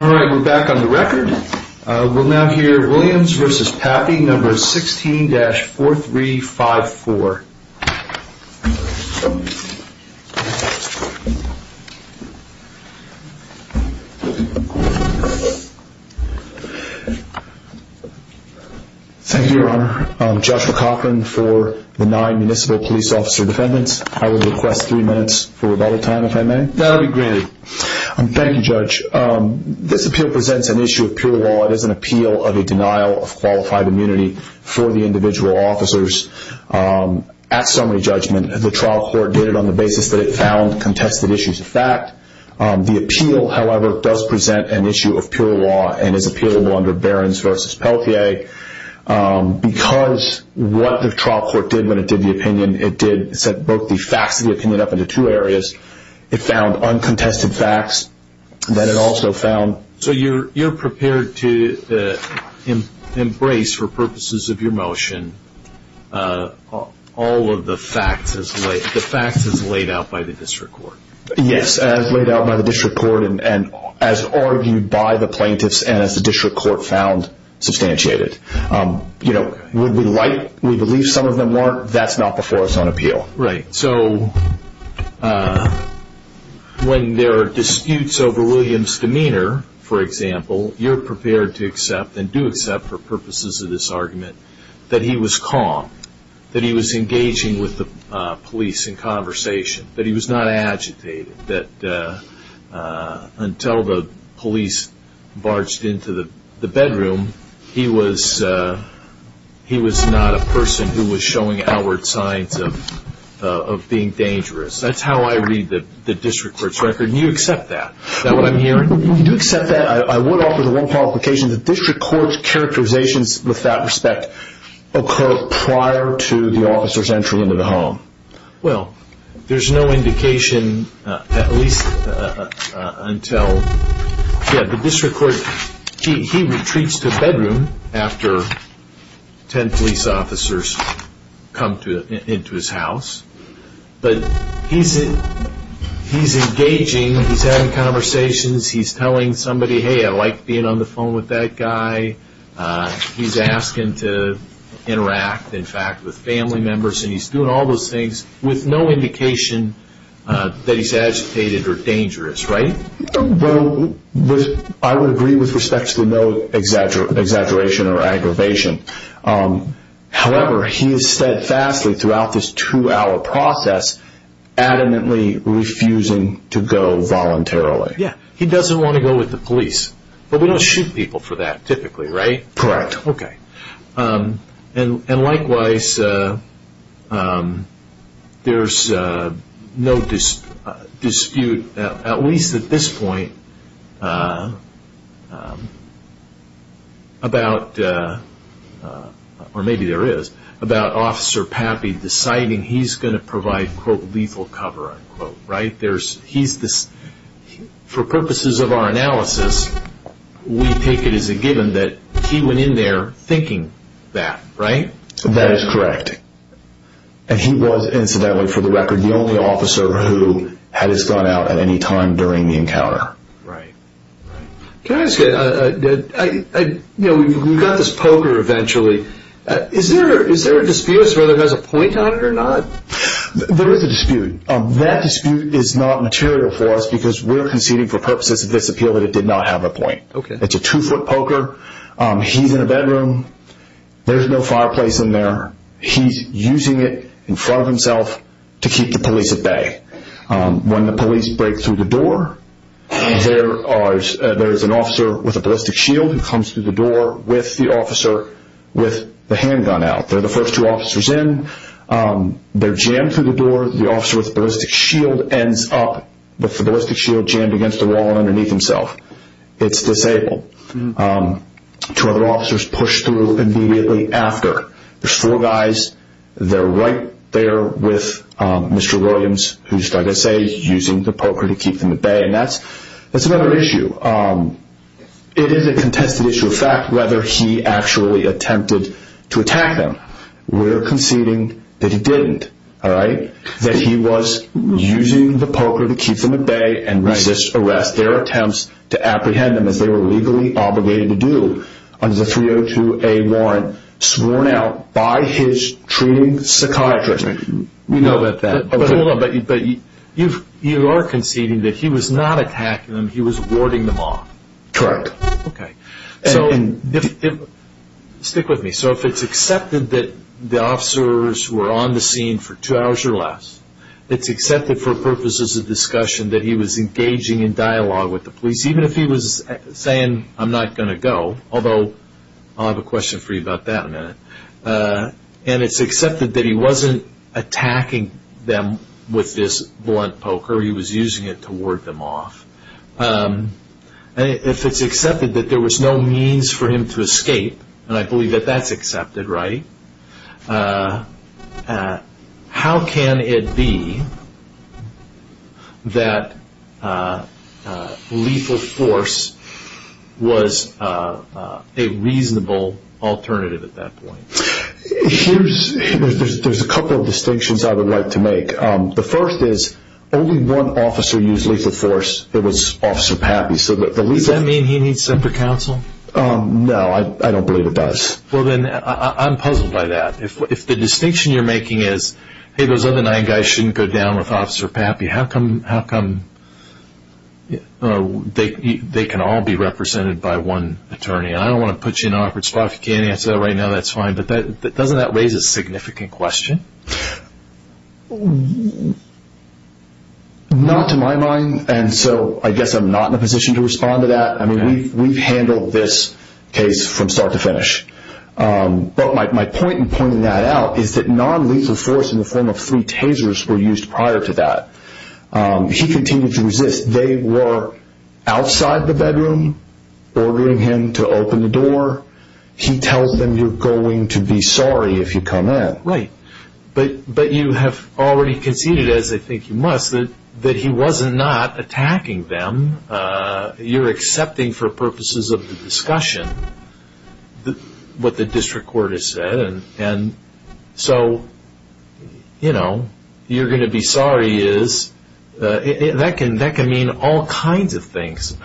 All right, we're back on the record. We'll now hear Williams v. Papi, number 16-4354. Thank you, Your Honor. I'm Judge McLaughlin for the nine municipal police officer defendants. I would request three minutes for rebuttal time, if I may. That'll be granted. Thank you, Judge. This appeal presents an issue of pure law. It is an appeal of a denial of qualified immunity for the individual officers. At summary judgment, the trial court did it on the basis that it found contested issues of fact. The appeal, however, does present an issue of pure law and is appealable under Barron's v. Pelletier. Because what the trial court did when it did the facts, then it also found... So you're prepared to embrace, for purposes of your motion, all of the facts as laid out by the district court? Yes, as laid out by the district court and as argued by the plaintiffs and as the district court found substantiated. We believe some of them weren't. That's not before us on appeal. Right. So when there are disputes over William's demeanor, for example, you're prepared to accept and do accept for purposes of this argument that he was calm, that he was engaging with the police in conversation, that he was not agitated, that until the police barged into the bedroom, he was of being dangerous. That's how I read the district court's record, and you accept that? Is that what I'm hearing? You do accept that. I would offer the wrong qualification. The district court's characterizations with that respect occur prior to the officer's entry into the home. Well, there's no indication, at least until... Yeah, the district court, he retreats to the But he's engaging, he's having conversations, he's telling somebody, hey, I like being on the phone with that guy. He's asking to interact, in fact, with family members, and he's doing all those things with no indication that he's agitated or dangerous, right? Well, I would agree with respect to no exaggeration or aggravation. However, he is steadfastly, throughout this two-hour process, adamantly refusing to go voluntarily. Yeah. He doesn't want to go with the police, but we don't shoot people for that, typically, right? Correct. Okay. And likewise, there's no dispute, at least at this point, about... Or maybe there is, about Officer Pappy deciding he's going to provide, quote, lethal cover, unquote, right? For purposes of our analysis, we take it as a given that he went in there thinking that, right? That is correct. And he was, incidentally, for the record, the only officer who had his gun out at any time during the encounter. Right. Can I ask you... We've got this poker, eventually. Is there a dispute as to whether it has a point on it or not? There is a dispute. That dispute is not material for us because we're conceding, for purposes of this appeal, that it did not have a point. Okay. It's a two-foot poker. He's in a bedroom. There's no fireplace in there. He's using it in front of himself to keep the police at bay. When the police break through the door, there is an officer with a ballistic shield who comes through the door with the officer with the handgun out. They're the first two officers in. They're jammed through the door. The officer with the ballistic shield ends up with the ballistic shield jammed against the wall and underneath himself. It's disabled. Two other officers push through immediately after. There's four guys. They're right there with Mr. Williams, who's, like I say, using the poker to keep them at bay. That's another issue. It is a contested issue of fact whether he actually attempted to attack them. We're conceding that he didn't, that he was using the poker to keep them at bay and resist arrest. There are attempts to apprehend them, as they were legally obligated to do, under the 302A warrant, sworn out by his treating psychiatrist. We know about that. You are conceding that he was not attacking them. He was warding them off. Correct. Stick with me. If it's accepted that the officers were on the scene for two hours or less, it's accepted for purposes of discussion that he was engaging in dialogue with the police, even if he was saying, I'm not going to go. Although, I'll have a question for you about that in a minute. It's accepted that he wasn't attacking them with this blunt poker. He was using it to ward them off. If it's accepted that there was no means for him to escape, and I believe that that's accepted, right, how can it be that lethal force was a reasonable alternative at that point? There's a couple of distinctions I would like to make. The first is, only one officer used lethal force. It was Officer Pappy. Does that mean he needs separate counsel? No, I don't believe it does. I'm puzzled by that. If the distinction you're making is, hey, those other nine guys shouldn't go down with Officer Pappy, how come they can all be represented by one attorney? I don't want to put you in an awkward spot. If you can't answer that right now, that's fine. Doesn't that raise a significant question? Not to my mind. I guess I'm not in a position to respond to that. We've handled this case from non-lethal force in the form of three tasers were used prior to that. He continued to resist. They were outside the bedroom, ordering him to open the door. He tells them, you're going to be sorry if you come in. Right, but you have already conceded, as I think you must, that he wasn't not attacking them. You're accepting for purposes of the discussion what the district court has said. So, you're going to be sorry. That can mean all kinds of things.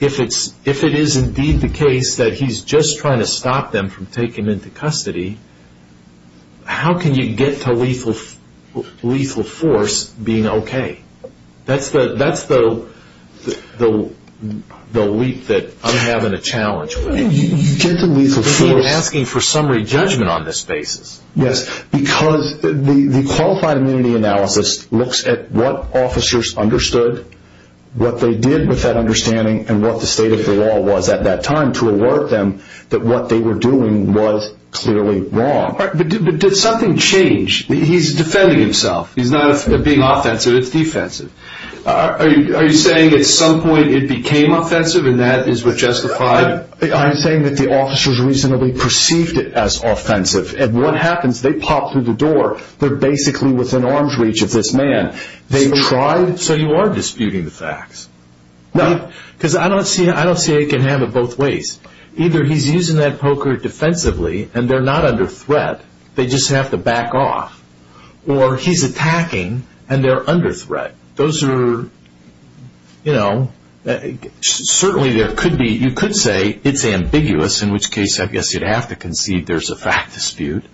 If it is indeed the case that he's just trying to stop them from taking him into custody, how can you get to lethal force being okay? That's the leap that I'm having a challenge with. You get to lethal force... You're asking for summary judgment on this basis. Yes, because the qualified immunity analysis looks at what officers understood, what they did with that understanding, and what the state of the law was at that time to alert them that what they were doing was clearly wrong. But did something change? He's defending himself. He's not being offensive. It's defensive. Are you saying at some point it became offensive, and that is what justified... I'm saying that the officers reasonably perceived it as offensive. And what happens, they pop through the door. They're basically within arm's reach of this man. They tried... So, you are disputing the facts? No. I don't see how you can have it both ways. Either he's using that poker defensively, and they're not under threat. They just have to back off. Or he's attacking, and they're under threat. You could say it's ambiguous, in which case, I guess you'd have to concede there's a fact dispute.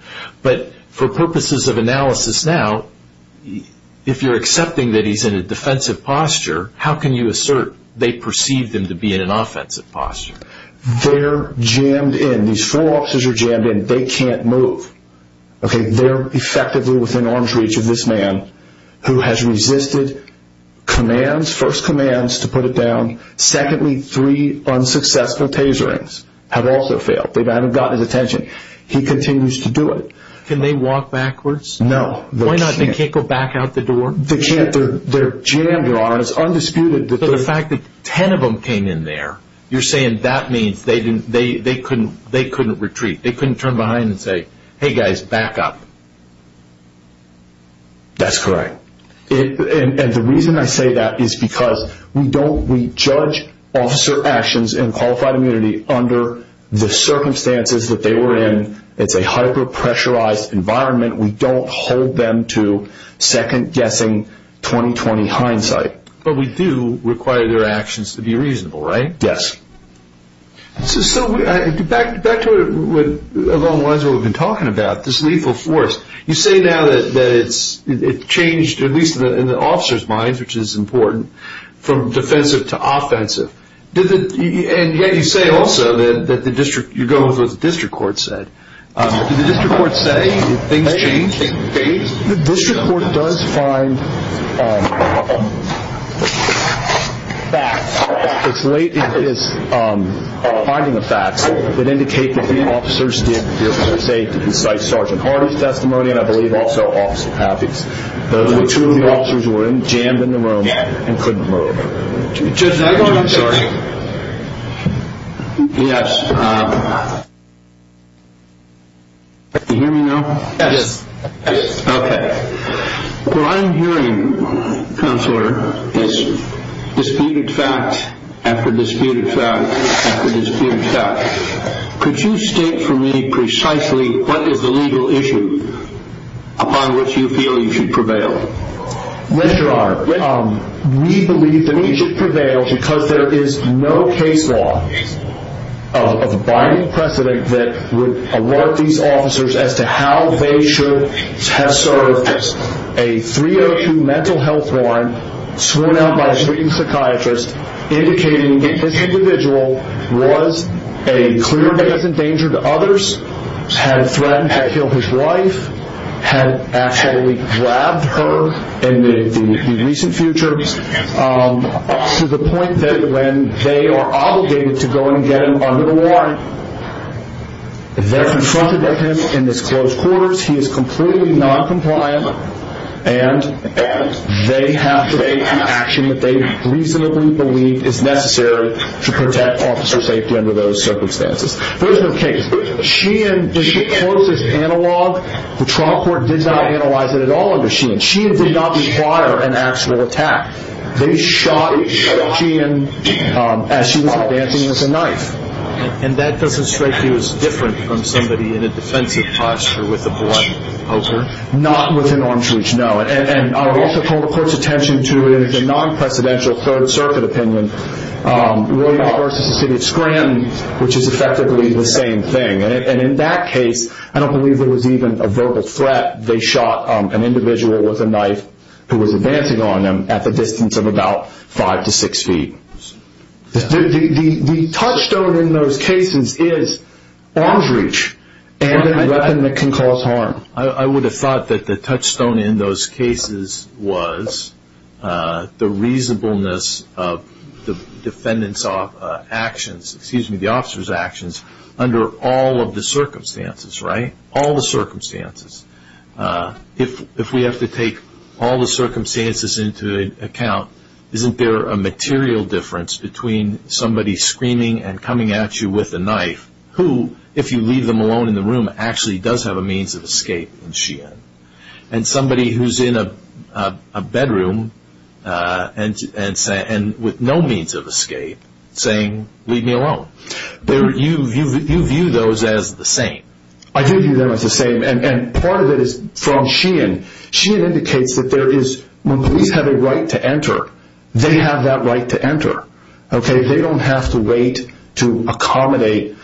But for purposes of analysis now, if you're accepting that he's in a defensive posture, how can you assert they perceived him to be in an offensive posture? They're jammed in. These four officers are jammed in. They can't move. They're effectively within arm's reach of this man, who has resisted commands, first commands to put it down. Secondly, three unsuccessful taserings have also failed. They haven't gotten his attention. He continues to do it. Can they walk backwards? No. Why not? They can't go back out the door? They can't. They're jammed, Your Honor. It's undisputed that... The fact that 10 of them came in there, you're saying that means they couldn't retreat. They couldn't turn behind and say, hey guys, back up. That's correct. And the reason I say that is because we judge officer actions and qualified immunity under the circumstances that they were in. It's a hyper-pressurized environment. We don't hold them to second-guessing, 20-20 hindsight. But we do require their actions to be reasonable, right? Yes. So back to along the lines of what we've been talking about, this lethal force. You say now that it's changed, at least in the officers' minds, which is important, from defensive to offensive. And yet you say also that you go with what the district court said. Did the district court debate? The district court does find facts. It's late in its finding of facts that indicate that the officers did feel safe to incite Sergeant Hardy's testimony, and I believe also Officer Pappy's. Those were two of the officers who were jammed in the room and couldn't move. Judge, can I go on? Yes. Can you hear me now? Yes. Okay. What I'm hearing, Counselor, is disputed fact after disputed fact after disputed fact. Could you state for me precisely what is the legal issue upon which you feel you should prevail? Mr. Arnn, we believe that we should prevail because there is no case law of a binding precedent that would alert these officers as to how they should have served a 302 mental health warrant sworn out by a treating psychiatrist indicating that this individual was a clear danger to others, had threatened to kill his wife, had actually grabbed her in the recent future, up to the point that when they are obligated to go and get him under the warrant, they're confronted with him in his closed quarters, he is completely noncompliant, and they have to take the action that they reasonably believe is necessary to protect officer safety under those circumstances. There is no case. Sheehan discloses analog. The trial court did not analyze it at all under Sheehan. Sheehan did not require an actual attack. They shot Sheehan as she was dancing with a knife. And that doesn't strike you as different from somebody in a defensive posture with a blunt poker? Not within arm's reach, no. And I would also call the court's attention to, in a non-precedential Third Circuit opinion, Royal versus the city of Scranton, which is effectively the same thing. And in that case, I don't believe there was even a verbal threat. They shot an individual with a knife who was advancing on them at a distance of about five to six feet. The touchstone in those cases is arm's reach and a weapon that can cause harm. I would have thought that the touchstone in those cases was the reasonableness of the defendant's actions, excuse me, the officer's actions, under all of the circumstances, right? All circumstances. If we have to take all the circumstances into account, isn't there a material difference between somebody screaming and coming at you with a knife who, if you leave them alone in the room, actually does have a means of escape in Sheehan? And somebody who's in a bedroom and with no means of escape saying, leave me alone. You view those as the same. I do view them as the same. And part of it is from Sheehan. Sheehan indicates that when police have a right to enter, they have that right to enter. They don't have to wait to accommodate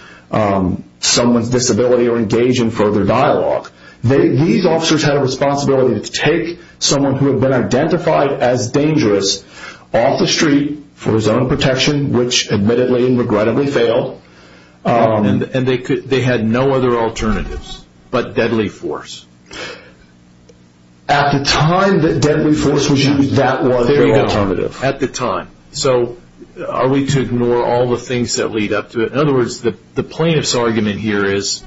someone's disability or engage in further dialogue. These officers had a responsibility to take someone who had been identified as dangerous off the street for his own protection, which admittedly and regrettably failed. And they had no other alternatives but deadly force. At the time that deadly force was used, that was their alternative. At the time. So are we to ignore all the things that lead up to it? In other words, the plaintiff's argument here is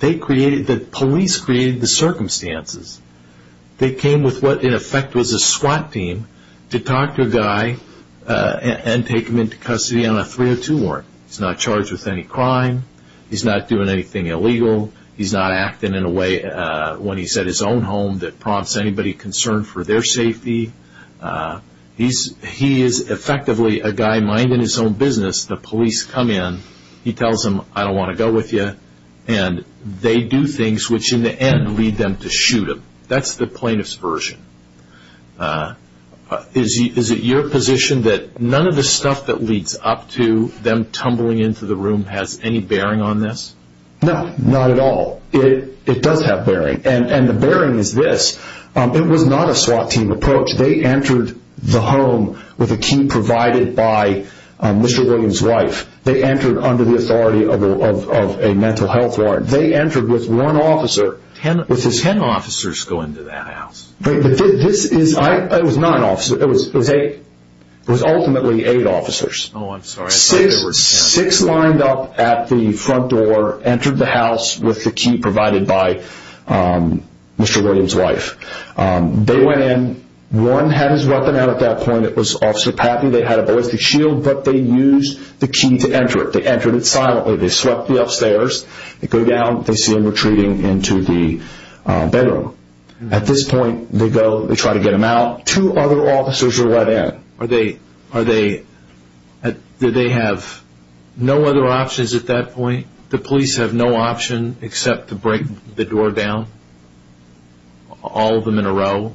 that police created the circumstances. They came with what a 302 warrant. He's not charged with any crime. He's not doing anything illegal. He's not acting in a way when he's at his own home that prompts anybody concerned for their safety. He is effectively a guy minding his own business. The police come in. He tells them, I don't want to go with you. And they do things which in the end lead them to shoot him. That's the plaintiff's version. Is it your position that none of the stuff that leads up to them tumbling into the room has any bearing on this? No, not at all. It does have bearing. And the bearing is this. It was not a SWAT team approach. They entered the home with a key provided by Mr. Williams' wife. They entered under the authority of a mental health warrant. They entered with one officer. Was it 10 officers going to that house? It was not an officer. It was 8. It was ultimately 8 officers. Six lined up at the front door, entered the house with the key provided by Mr. Williams' wife. They went in. One had his weapon out at that point. It was Officer Pappy. They had a ballistic shield, but they used the key to enter it. They entered it silently. They swept the upstairs. They go down. They see him retreating into the bedroom. At this point, they go. They try to get him out. Two other officers are let in. Did they have no other options at that point? The police have no option except to break the door down, all of them in a row,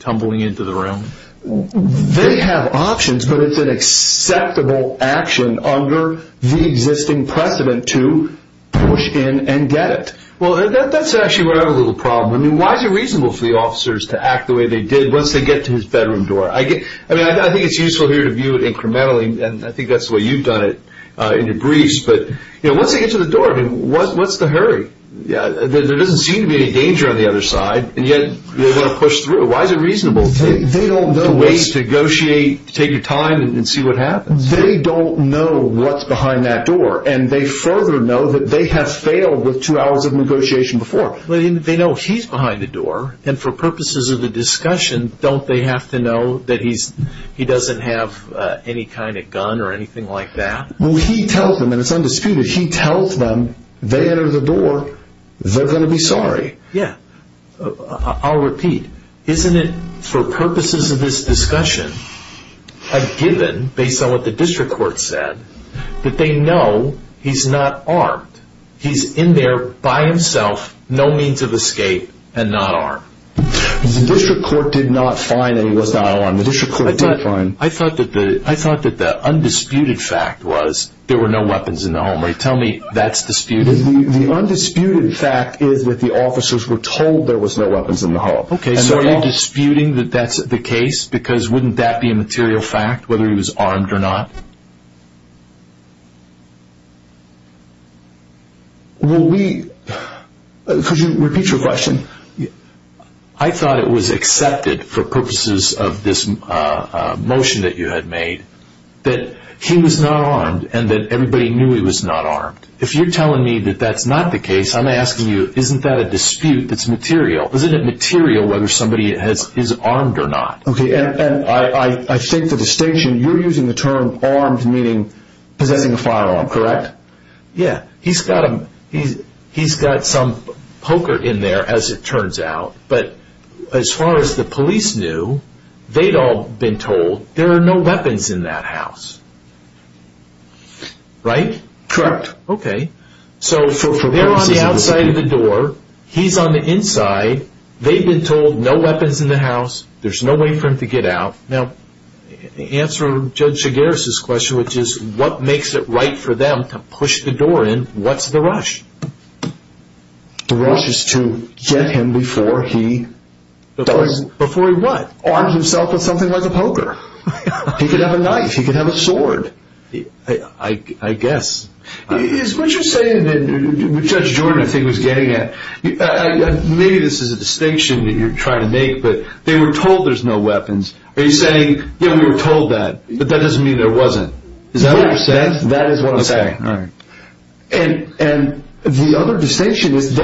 tumbling into the room? They have options, but it's an acceptable action under the existing precedent to push in and get it. That's actually where I have a little problem. Why is it reasonable for the officers to act the way they did once they get to his bedroom door? I think it's useful here to view it incrementally. I think that's the way you've done it in your briefs. Once they get to the door, what's the hurry? There doesn't seem to be any danger on the other side, and yet they want to push through. Why is it reasonable to wait, negotiate, take your time, and see what happens? They don't know what's behind that door, and they further know that they have failed with two hours of negotiation before. They know he's behind the door, and for purposes of the discussion, don't they have to know that he doesn't have any kind of gun or anything like that? Well, he tells them, and it's undisputed, he tells them. They enter the door. They're going to be sorry. Yeah. I'll repeat. Isn't it, for purposes of this discussion, a given, based on what the district court said, that they know he's not armed? He's in there by himself, no means of escape, and not armed? The district court did not find that he was not armed. I thought that the undisputed fact was there were no weapons in the home. Tell me that's disputed. The undisputed fact is that the officers were the case, because wouldn't that be a material fact, whether he was armed or not? Will we, could you repeat your question? I thought it was accepted, for purposes of this motion that you had made, that he was not armed, and that everybody knew he was not armed. If you're telling me that that's not the case, I'm asking you, isn't that a dispute that's material? Isn't it material whether somebody is armed or not? I think the distinction, you're using the term armed, meaning possessing a firearm, correct? Yeah. He's got some poker in there, as it turns out, but as far as the police knew, they'd all been told there are no weapons in that house. Right? Correct. Okay, so they're on the outside of the door, he's on the inside, they've been told no weapons in the house, there's no way for him to get out. Now, answer Judge Chigares' question, which is, what makes it right for them to push the door in? What's the rush? The rush is to get him before he... Before he what? Arms himself with something like a poker. He could have a knife, he could have a sword. I guess. Is what you're saying that Judge Jordan, I think, was getting at, maybe this is a distinction that you're trying to make, but they were told there's no weapons. Are you saying, yeah, we were told that, but that doesn't mean there wasn't? Is that what you're saying? That is what I'm saying. And the other distinction is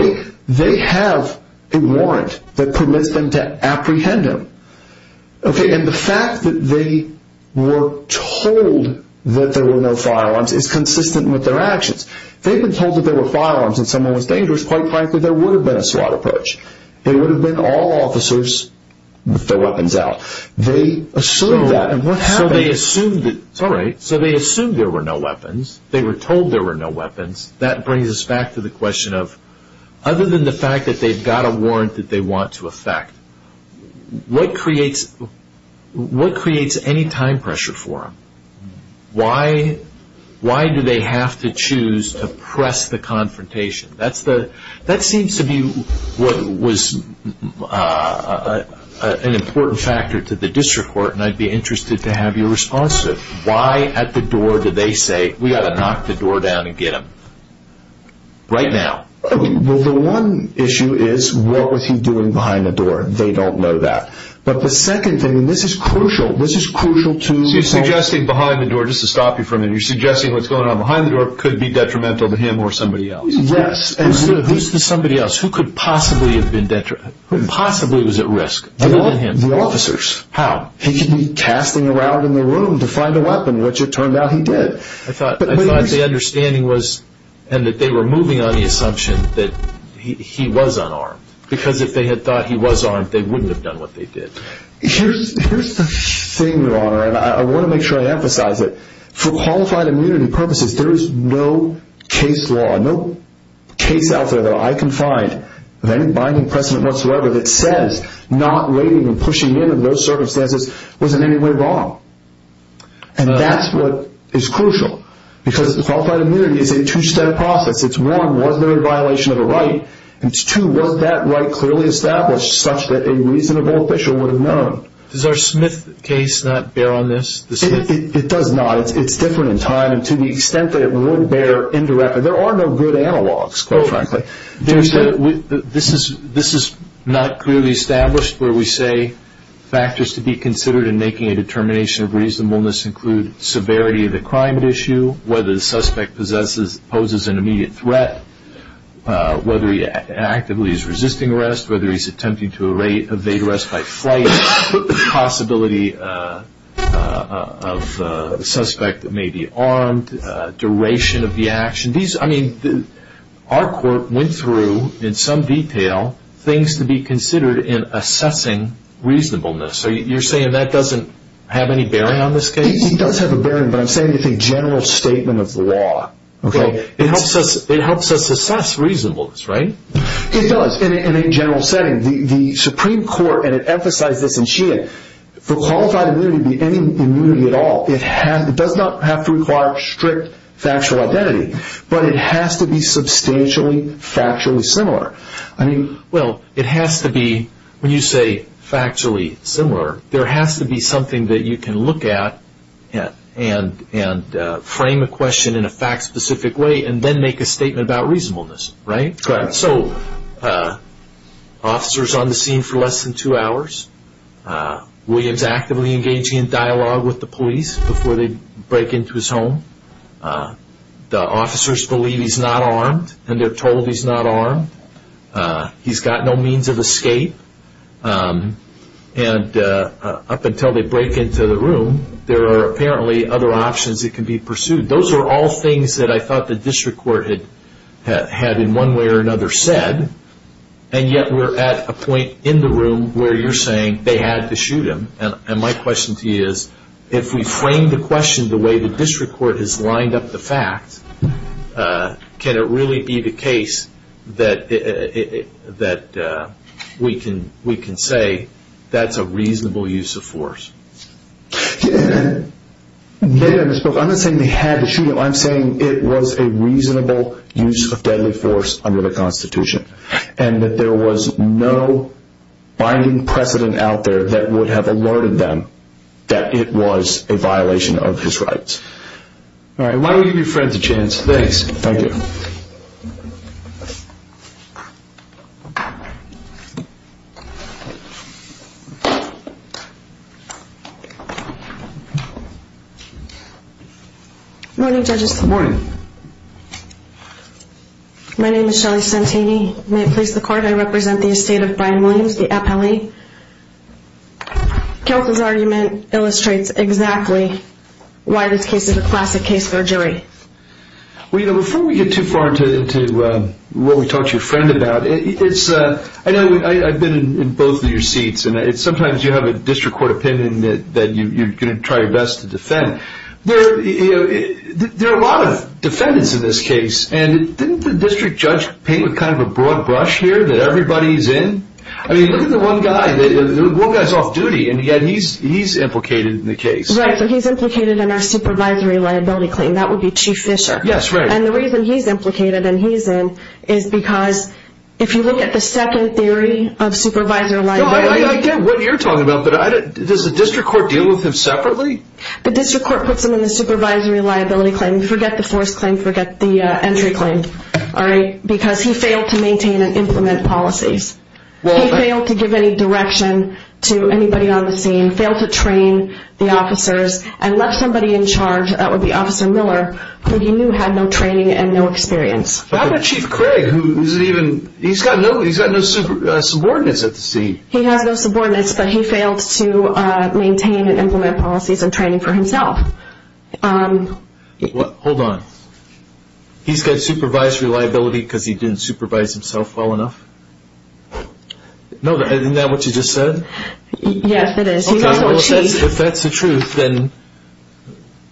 they have a warrant that permits them to apprehend him. Okay, and the fact that they were told that there were no firearms is consistent with their actions. They've been told that there were firearms and someone was dangerous, quite frankly, there would have been a SWAT approach. They would have been all officers with their weapons out. They assumed that, and what happened... So they assumed that, all right, so they assumed there were no weapons. They were told there were no weapons. That brings us back to the question of, other than the fact that they've got a warrant that they want to affect, what creates any time pressure for them? Why do they have to choose to press the confrontation? That seems to be what was an important factor to the district court, and I'd be interested to have your response to it. Why at the door do they say, we've got to knock the door down and get him right now? Well, the one issue is, what was he doing behind the door? They don't know that. But the second thing, and this is crucial, this is crucial to... So you're suggesting behind the door, just to stop you from it, you're suggesting what's going on behind the door could be detrimental to him or somebody else. Yes. Who's the somebody else? Who could possibly have been, possibly was at risk? The officers. How? He could be casting around in the room to find a weapon, which it turned out he did. I thought the understanding was, and that they were moving on the assumption that he was unarmed, because if they had thought he was armed, they wouldn't have done what they did. Here's the thing, your honor, and I want to make sure I emphasize it, for qualified immunity purposes, there is no case law, no case out there that I can find, of any binding precedent whatsoever, that says not waiting and pushing in those circumstances was in any way wrong. And that's what is crucial, because qualified immunity is a two-step process. It's one, was there a violation of a right? And two, was that right clearly established such that a reasonable official would have known? Does our Smith case not bear on this? It does not. It's different in time, and to the extent that it would bear indirectly, there are no good analogs, quite frankly. There's a, this is not clearly established, where we say factors to be considered in making a determination of reasonableness include severity of the crime at issue, whether the suspect poses an immediate threat, whether he actively is resisting arrest, whether he's attempting to evade arrest by flight, possibility of a suspect that may be armed, duration of the in some detail, things to be considered in assessing reasonableness. So you're saying that doesn't have any bearing on this case? It does have a bearing, but I'm saying it's a general statement of the law. Okay. It helps us assess reasonableness, right? It does, in a general setting. The Supreme Court, and it emphasizes this in Sheehan, for qualified immunity to be any immunity at all, it does not have to require strict factual identity, but it has to be substantially, factually similar. Well, it has to be, when you say factually similar, there has to be something that you can look at and frame a question in a fact specific way, and then make a statement about reasonableness, right? Correct. So, officer's on the scene for less than two hours. William's actively engaging in dialogue with the police before they break into his home. The officers believe he's not armed, and they're told he's not armed. He's got no means of escape, and up until they break into the room, there are apparently other options that can be pursued. Those are all things that I thought the district court had in one way or another said, and yet we're at a point in the room where you're saying they had to shoot him, and my question to you is, if we frame the question the way the district court has lined up the facts, can it really be the case that we can say that's a reasonable use of force? Maybe I misspoke. I'm not saying they had to shoot him. I'm saying it was a reasonable use of deadly force under the Constitution, and that there was no binding precedent out there that would have alerted them that it was a violation of his rights. All right. Why don't we give your friend a chance? Thanks. Thank you. Morning, judges. Good morning. My name is Shelly Santini. May it please the court, I represent the estate of Brian Williams, the appellee. Counsel's argument illustrates exactly why this case is a classic case for a jury. Before we get too far into what we talked to your friend about, I've been in both of your seats, and sometimes you have a district court opinion that you're going to try your best to defend. There are a lot of defendants in this case, and didn't the district judge paint what kind of broad brush here that everybody's in? I mean, look at the one guy. The one guy's off-duty, and yet he's implicated in the case. Right. So he's implicated in our supervisory liability claim. That would be Chief Fisher. Yes, right. And the reason he's implicated and he's in is because if you look at the second theory of supervisory liability- No, I get what you're talking about, but does the district court deal with him separately? The district court puts him in the supervisory liability claim. Forget the force claim. Forget the entry claim. All right? Because he failed to maintain and implement policies. He failed to give any direction to anybody on the scene, failed to train the officers, and left somebody in charge, that would be Officer Miller, who he knew had no training and no experience. How about Chief Craig, who's even- he's got no subordinates at the seat. He has no subordinates, but he failed to maintain and implement policies and training for himself. Hold on. He's got supervisory liability because he didn't supervise himself well enough? No, isn't that what you just said? Yes, it is. He's also a chief. If that's the truth, then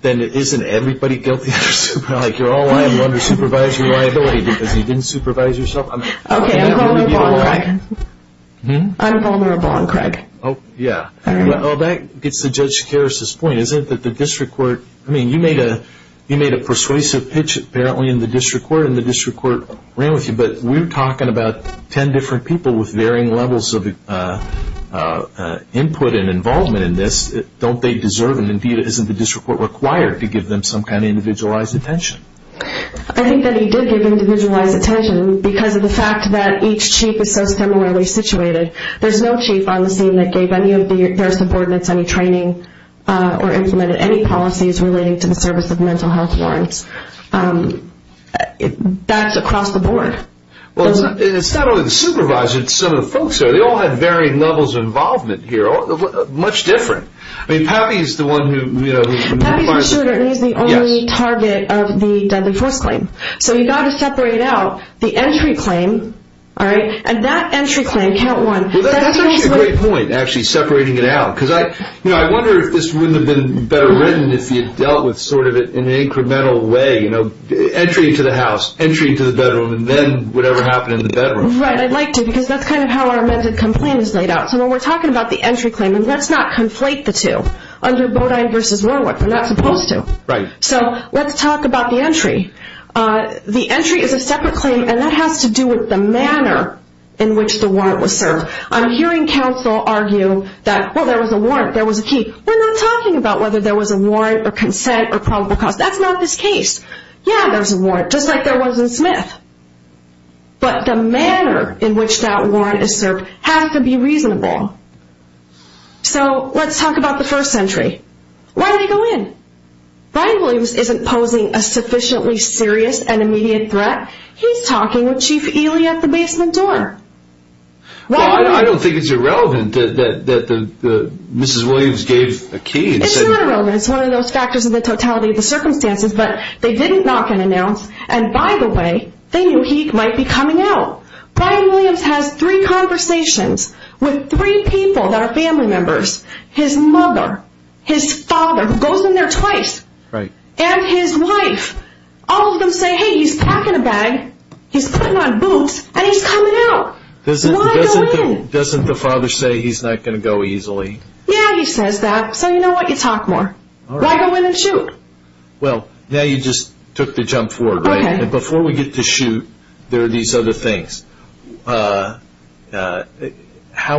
isn't everybody guilty? Like, you're all lying under supervisory liability because you didn't supervise yourself? Okay, I'm vulnerable on Craig. I'm vulnerable on Craig. Oh, yeah. Well, that gets to Judge Karas's point, isn't it? I mean, you made a persuasive pitch apparently in the district court, and the district court ran with you, but we're talking about 10 different people with varying levels of input and involvement in this. Don't they deserve, and indeed, isn't the district court required to give them some kind of individualized attention? I think that he did give individualized attention because of the fact that each chief is so similarly situated. There's no chief on the scene that gave any of their subordinates any training or implemented any policies relating to the service of mental health warrants. That's across the board. Well, it's not only the supervisor, it's some of the folks here. They all had varying levels of involvement here, much different. I mean, Pappy is the one who, you know- Pappy's a shooter, and he's the only target of the deadly force claim. So you've got to separate out the entry claim, all right? And that entry claim, count one- Well, that's actually a great point, actually separating it out. I wonder if this wouldn't have been better written if you dealt with it in an incremental way, you know, entry to the house, entry to the bedroom, and then whatever happened in the bedroom. Right, I'd like to, because that's kind of how our amended complaint is laid out. So when we're talking about the entry claim, and let's not conflate the two. Under Bodine v. Warwick, we're not supposed to. So let's talk about the entry. The entry is a separate claim, and that has to do with the manner in which the warrant was served. I'm hearing counsel argue that, well, there was a warrant, there was a key. We're not talking about whether there was a warrant, or consent, or probable cause. That's not this case. Yeah, there was a warrant, just like there was in Smith. But the manner in which that warrant is served has to be reasonable. So let's talk about the first entry. Why did he go in? Brian Williams isn't posing a sufficiently serious and immediate threat. He's talking with Chief Ely at the basement door. Well, I don't think it's irrelevant that Mrs. Williams gave a key. It's not irrelevant. It's one of those factors of the totality of the circumstances. But they didn't knock and announce. And by the way, they knew he might be coming out. Brian Williams has three conversations with three people that are family members. His mother, his father, who goes in there twice, and his wife. All of them say, hey, he's packing a bag. He's putting on boots. And he's coming out. Doesn't the father say he's not going to go easily? Yeah, he says that. So you know what? You talk more. Why go in and shoot? Well, now you just took the jump forward, right? Before we get to shoot, there are these other things. How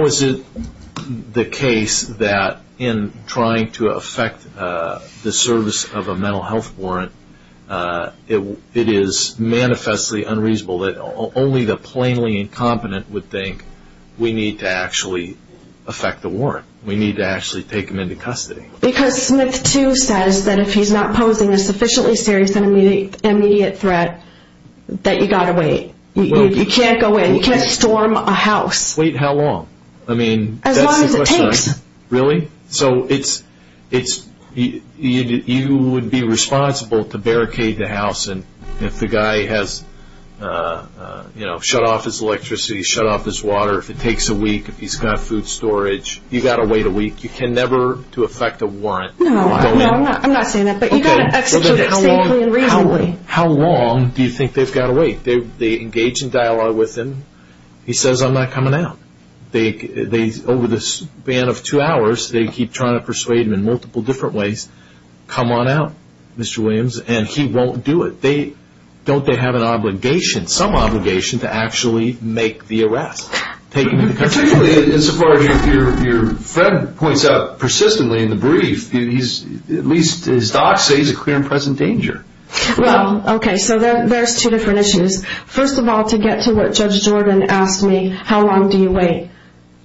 is it the case that in trying to affect the service of a mental health warrant, it is manifestly unreasonable that only the plainly incompetent would think we need to actually affect the warrant. We need to actually take him into custody. Because Smith, too, says that if he's not posing a sufficiently serious and immediate threat, that you got to wait. You can't go in. You can't storm a house. Wait how long? I mean, as long as it takes. Really? So you would be responsible to barricade the house. And if the guy has shut off his electricity, shut off his water, if it takes a week, if he's got food storage, you got to wait a week. You can never do affect a warrant. No, I'm not saying that. But you got to execute it safely and reasonably. How long do you think they've got to wait? They engage in dialogue with him. He says, I'm not coming out. Over the span of two hours, they keep trying to persuade him in multiple different ways. Come on out, Mr. Williams. And he won't do it. Don't they have an obligation, some obligation, to actually make the arrest? Particularly insofar as your friend points out persistently in the brief, at least his docs say he's a clear and present danger. Well, OK. So there's two different issues. First of all, to get to what Judge Jordan asked me, how long do you wait?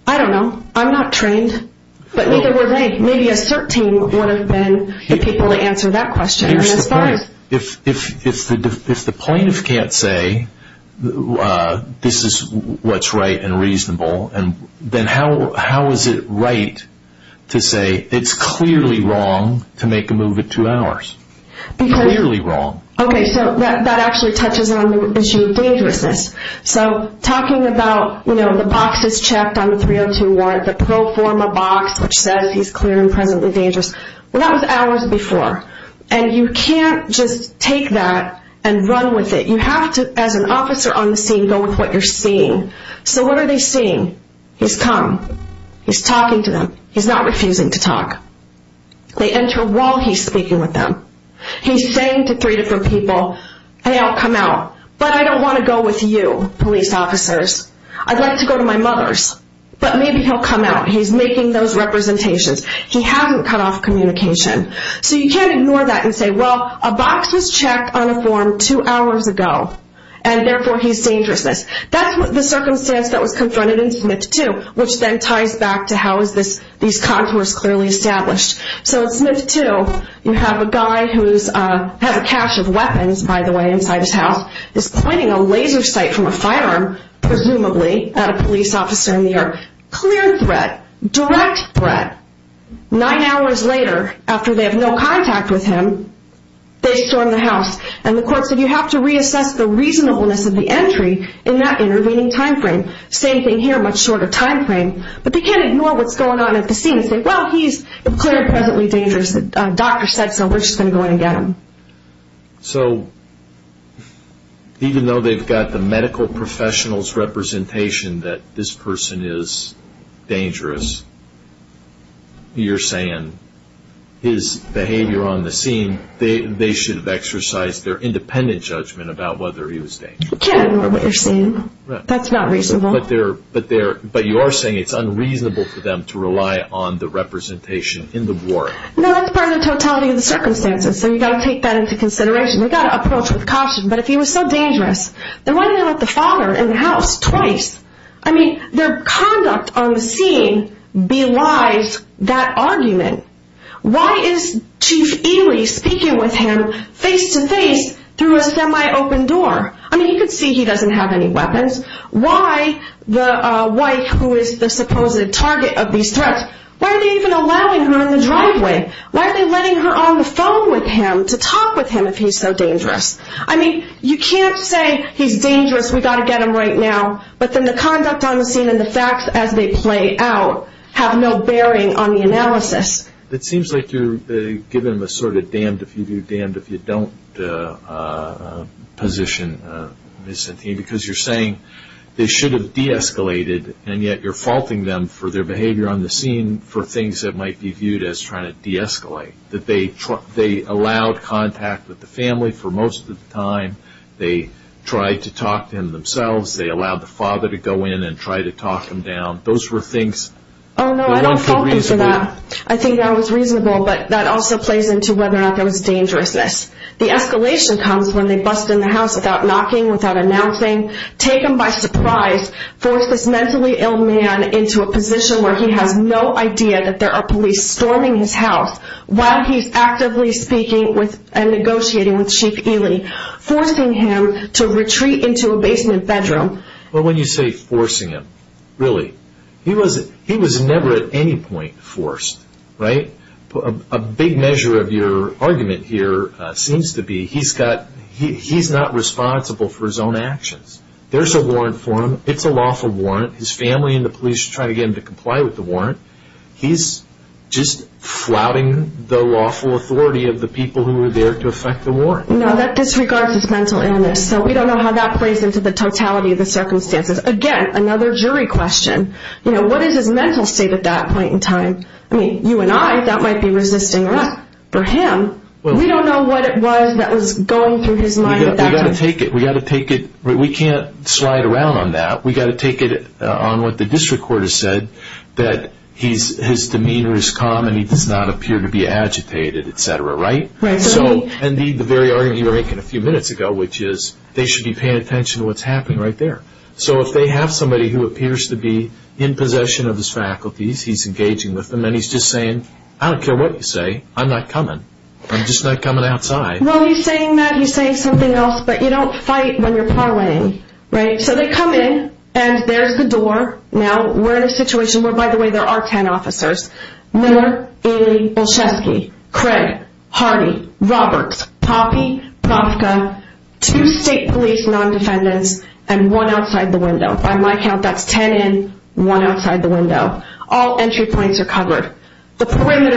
I don't know. I'm not trained. But neither were they. Maybe a CERT team would have been the people to answer that question. Here's the point. If the plaintiff can't say, this is what's right and reasonable, and then how is it right to say, it's clearly wrong to make a move at two hours? Clearly wrong. OK, so that actually touches on the issue of dangerousness. So talking about the boxes checked on the 302 warrant, the pro forma box which says he's clear and presently dangerous. Well, that was hours before. And you can't just take that and run with it. You have to, as an officer on the scene, go with what you're seeing. So what are they seeing? He's come. He's talking to them. He's not refusing to talk. They enter while he's speaking with them. He's saying to three different people, hey, I'll come out. But I don't want to go with you, police officers. I'd like to go to my mother's. But maybe he'll come out. He's making those representations. He hasn't cut off communication. So you can't ignore that and say, well, a box was checked on a form two hours ago. And therefore, he's dangerousness. That's the circumstance that was confronted in Smith 2, which then ties back to how is this these contours clearly established. So in Smith 2, you have a guy who has a cache of weapons, by the way, inside his house. Pointing a laser sight from a firearm, presumably at a police officer in New York. Clear threat, direct threat. Nine hours later, after they have no contact with him, they storm the house. And the court said you have to reassess the reasonableness of the entry in that intervening time frame. Same thing here, much shorter time frame. But they can't ignore what's going on at the scene and say, well, he's declared presently dangerous. Doctor said so. We're just going to go in and get him. So even though they've got the medical professional's representation that this person is dangerous, you're saying his behavior on the scene, they should have exercised their independent judgment about whether he was dangerous. Can't ignore what they're seeing. That's not reasonable. But you are saying it's unreasonable for them to rely on the representation in the ward. No, that's part of the totality of the circumstances. So you've got to take that into consideration. We've got to approach with caution. But if he was so dangerous, then why didn't they let the father in the house twice? I mean, their conduct on the scene belies that argument. Why is Chief Ely speaking with him face to face through a semi-open door? I mean, you can see he doesn't have any weapons. Why the wife, who is the supposed target of these threats, why are they even allowing her in the driveway? Why are they letting her on the phone with him to talk with him if he's so dangerous? I mean, you can't say he's dangerous, we've got to get him right now. But then the conduct on the scene and the facts as they play out have no bearing on the analysis. It seems like you're giving them a sort of damned if you do, damned if you don't position Ms. Santini. Because you're saying they should have de-escalated and yet you're faulting them for their behavior on the scene for things that might be viewed as trying to de-escalate. That they allowed contact with the family for most of the time. They tried to talk to him themselves. They allowed the father to go in and try to talk him down. Those were things. Oh no, I don't fault them for that. I think that was reasonable. But that also plays into whether or not there was dangerousness. The escalation comes when they bust in the house without knocking, without announcing. Take him by surprise. Force this mentally ill man into a position where he has no idea that there are police storming his house while he's actively speaking and negotiating with Chief Ely. Forcing him to retreat into a basement bedroom. But when you say forcing him, really, he was never at any point forced, right? A big measure of your argument here seems to be he's not responsible for his own actions. There's a warrant for him. It's a lawful warrant. His family and the police are trying to get him to comply with the warrant. He's just flouting the lawful authority of the people who were there to effect the warrant. No, that disregards his mental illness. So we don't know how that plays into the totality of the circumstances. Again, another jury question. You know, what is his mental state at that point in time? I mean, you and I, that might be resisting arrest. For him, we don't know what it was that was going through his mind at that time. We've got to take it. We've got to take it. We can't slide around on that. We've got to take it on what the district court has said, that his demeanor is calm and he does not appear to be agitated, et cetera, right? And the very argument you were making a few minutes ago, which is, they should be paying attention to what's happening right there. So if they have somebody who appears to be in possession of his faculties, he's engaging with them, and he's just saying, I don't care what you say, I'm not coming. I'm just not coming outside. Well, he's saying that. He's saying something else. But you don't fight when you're parlaying, right? So they come in, and there's the door. Now, we're in a situation where, by the way, there are 10 officers. Miller, Ely, Olszewski, Craig, Hardy, Roberts, Poppe, Profka, two state police non-defendants, and one outside the window. By my count, that's 10 in, one outside the window. All entry points are covered. Why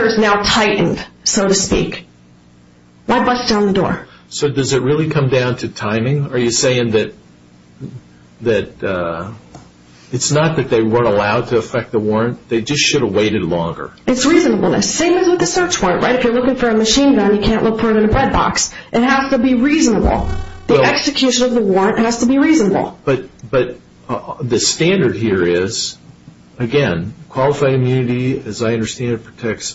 bust down the door? So does it really come down to timing? Are you saying that it's not that they weren't allowed to affect the warrant? They just should have waited longer. It's reasonableness. Same as with the search warrant, right? If you're looking for a machine gun, you can't look for it in a bread box. It has to be reasonable. The execution of the warrant has to be reasonable. But the standard here is, again, qualified immunity, as I understand it,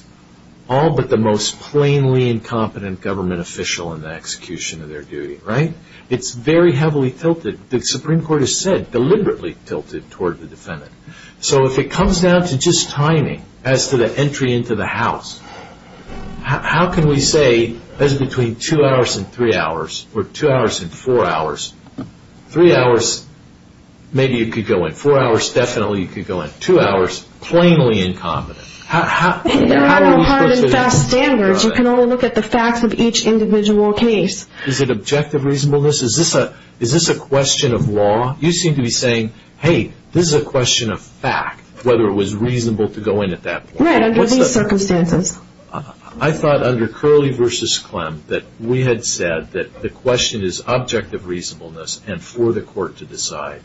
all but the most plainly incompetent government official in the execution of their duty, right? It's very heavily tilted. The Supreme Court has said, deliberately tilted toward the defendant. So if it comes down to just timing, as to the entry into the house, how can we say there's between two hours and three hours, or two hours and four hours? Three hours, maybe you could go in. Four hours, definitely you could go in. Two hours, plainly incompetent. There are no hard and fast standards. You can only look at the facts of each individual case. Is it objective reasonableness? Is this a question of law? You seem to be saying, hey, this is a question of fact, whether it was reasonable to go in at that point. Right, under these circumstances. I thought under Curley v. Clem that we had said that the question is objective reasonableness and for the court to decide.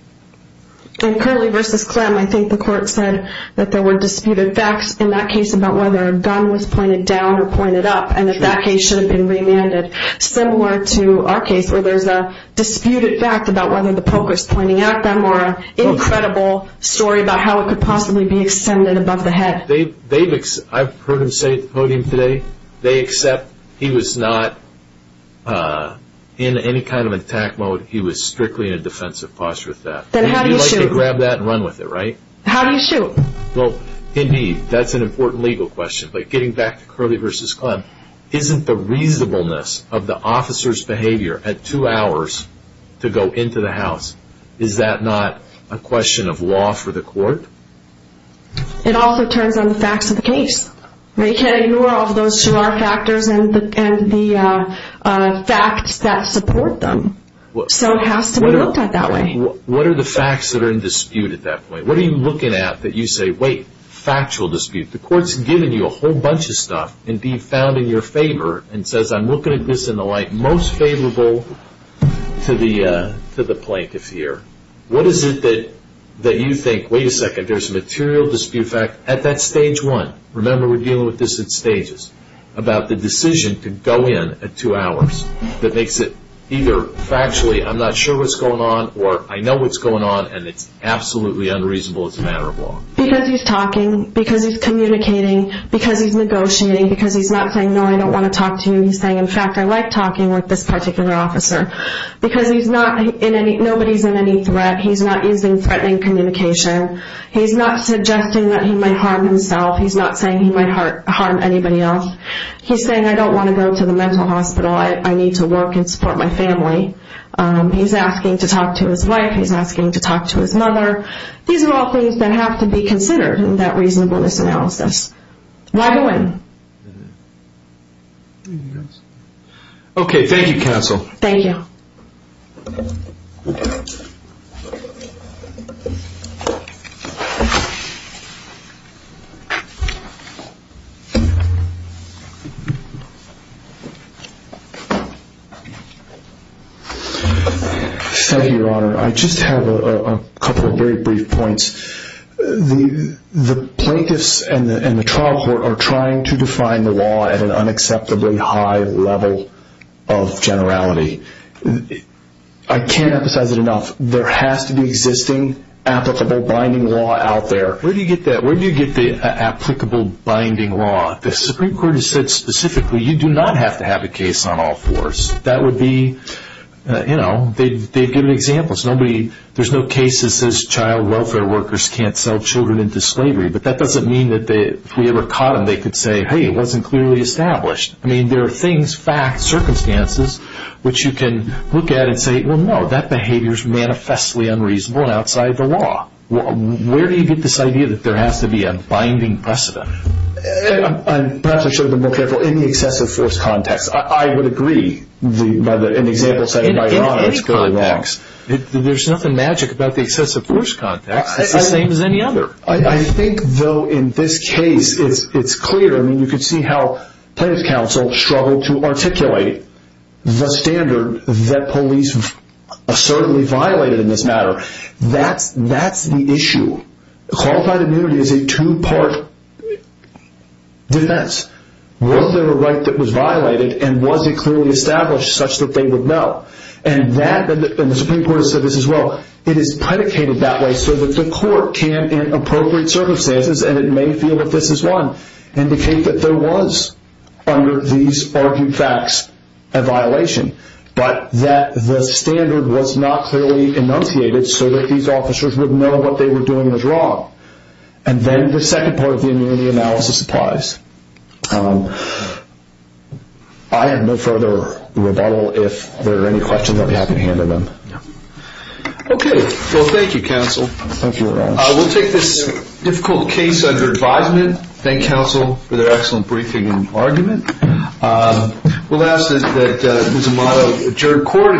In Curley v. Clem, I think the court said that there were disputed facts, in that case, about whether a gun was pointed down or pointed up, and if that case should have been remanded. Similar to our case, where there's a disputed fact about whether the poker's pointing at them, or an incredible story about how it could possibly be extended above the head. I've heard him say at the podium today, they accept he was not in any kind of attack mode. He was strictly in a defensive posture with that. Then how do you shoot? You'd like to grab that and run with it, right? How do you shoot? Well, indeed, that's an important legal question. Getting back to Curley v. Clem, isn't the reasonableness of the officer's behavior at two hours to go into the house, is that not a question of law for the court? It also turns on the facts of the case. They can't ignore all of those two R factors and the facts that support them. So it has to be looked at that way. What are the facts that are in dispute at that point? What are you looking at that you say, wait, factual dispute? The court's given you a whole bunch of stuff, indeed, found in your favor, and says, I'm looking at this in the light most favorable to the plaintiff here. What is it that you think, wait a second, there's a material dispute fact at that stage one? Remember, we're dealing with this in stages, about the decision to go in at two hours. That makes it either factually, I'm not sure what's going on, I know what's going on, and it's absolutely unreasonable as a matter of law. Because he's talking, because he's communicating, because he's negotiating, because he's not saying, no, I don't want to talk to you. He's saying, in fact, I like talking with this particular officer. Because nobody's in any threat, he's not using threatening communication. He's not suggesting that he might harm himself. He's not saying he might harm anybody else. He's saying, I don't want to go to the mental hospital. I need to work and support my family. He's asking to talk to his wife. He's asking to talk to his mother. These are all things that have to be considered in that reasonableness analysis. Why go in? Okay, thank you counsel. Thank you. Thank you, your honor. I just have a couple of very brief points. The plaintiffs and the trial court are trying to define the law at an unacceptably high level of generality. I can't emphasize it enough. There has to be existing applicable binding law out there. Where do you get that? Where do you get the applicable binding law? The Supreme Court has said specifically, you do not have to have a case on all fours. That would be, you know, they've given examples. There's no case that says child welfare workers can't sell children into slavery, but that doesn't mean that if we ever caught them, they could say, hey, it wasn't clearly established. I mean, there are things, facts, circumstances, which you can look at and say, well, no, that behavior is manifestly unreasonable and outside the law. Where do you get this idea that there has to be a binding precedent? Perhaps I should have been more careful. In the excessive force context, I would agree by an example set by your Honor. In any context, there's nothing magic about the excessive force context. It's the same as any other. I think, though, in this case, it's clear. I mean, you could see how plaintiff's counsel struggled to articulate the standard that police assertedly violated in this matter. That's the issue. Qualified immunity is a two-part defense. Was there a right that was violated, and was it clearly established such that they would know? The Supreme Court has said this as well. It is predicated that way so that the court can, in appropriate circumstances, and it may feel that this is one, indicate that there was, under these argued facts, a violation, but that the standard was not clearly enunciated so that these officers would know what they were doing was wrong. Then the second part of the immunity analysis applies. I have no further rebuttal. If there are any questions, I'll be happy to handle them. Okay. Well, thank you, counsel. Thank you, Your Honor. We'll take this difficult case under advisement. Thank counsel for their excellent briefing and argument. We'll ask that Ms. Amato adjourn court.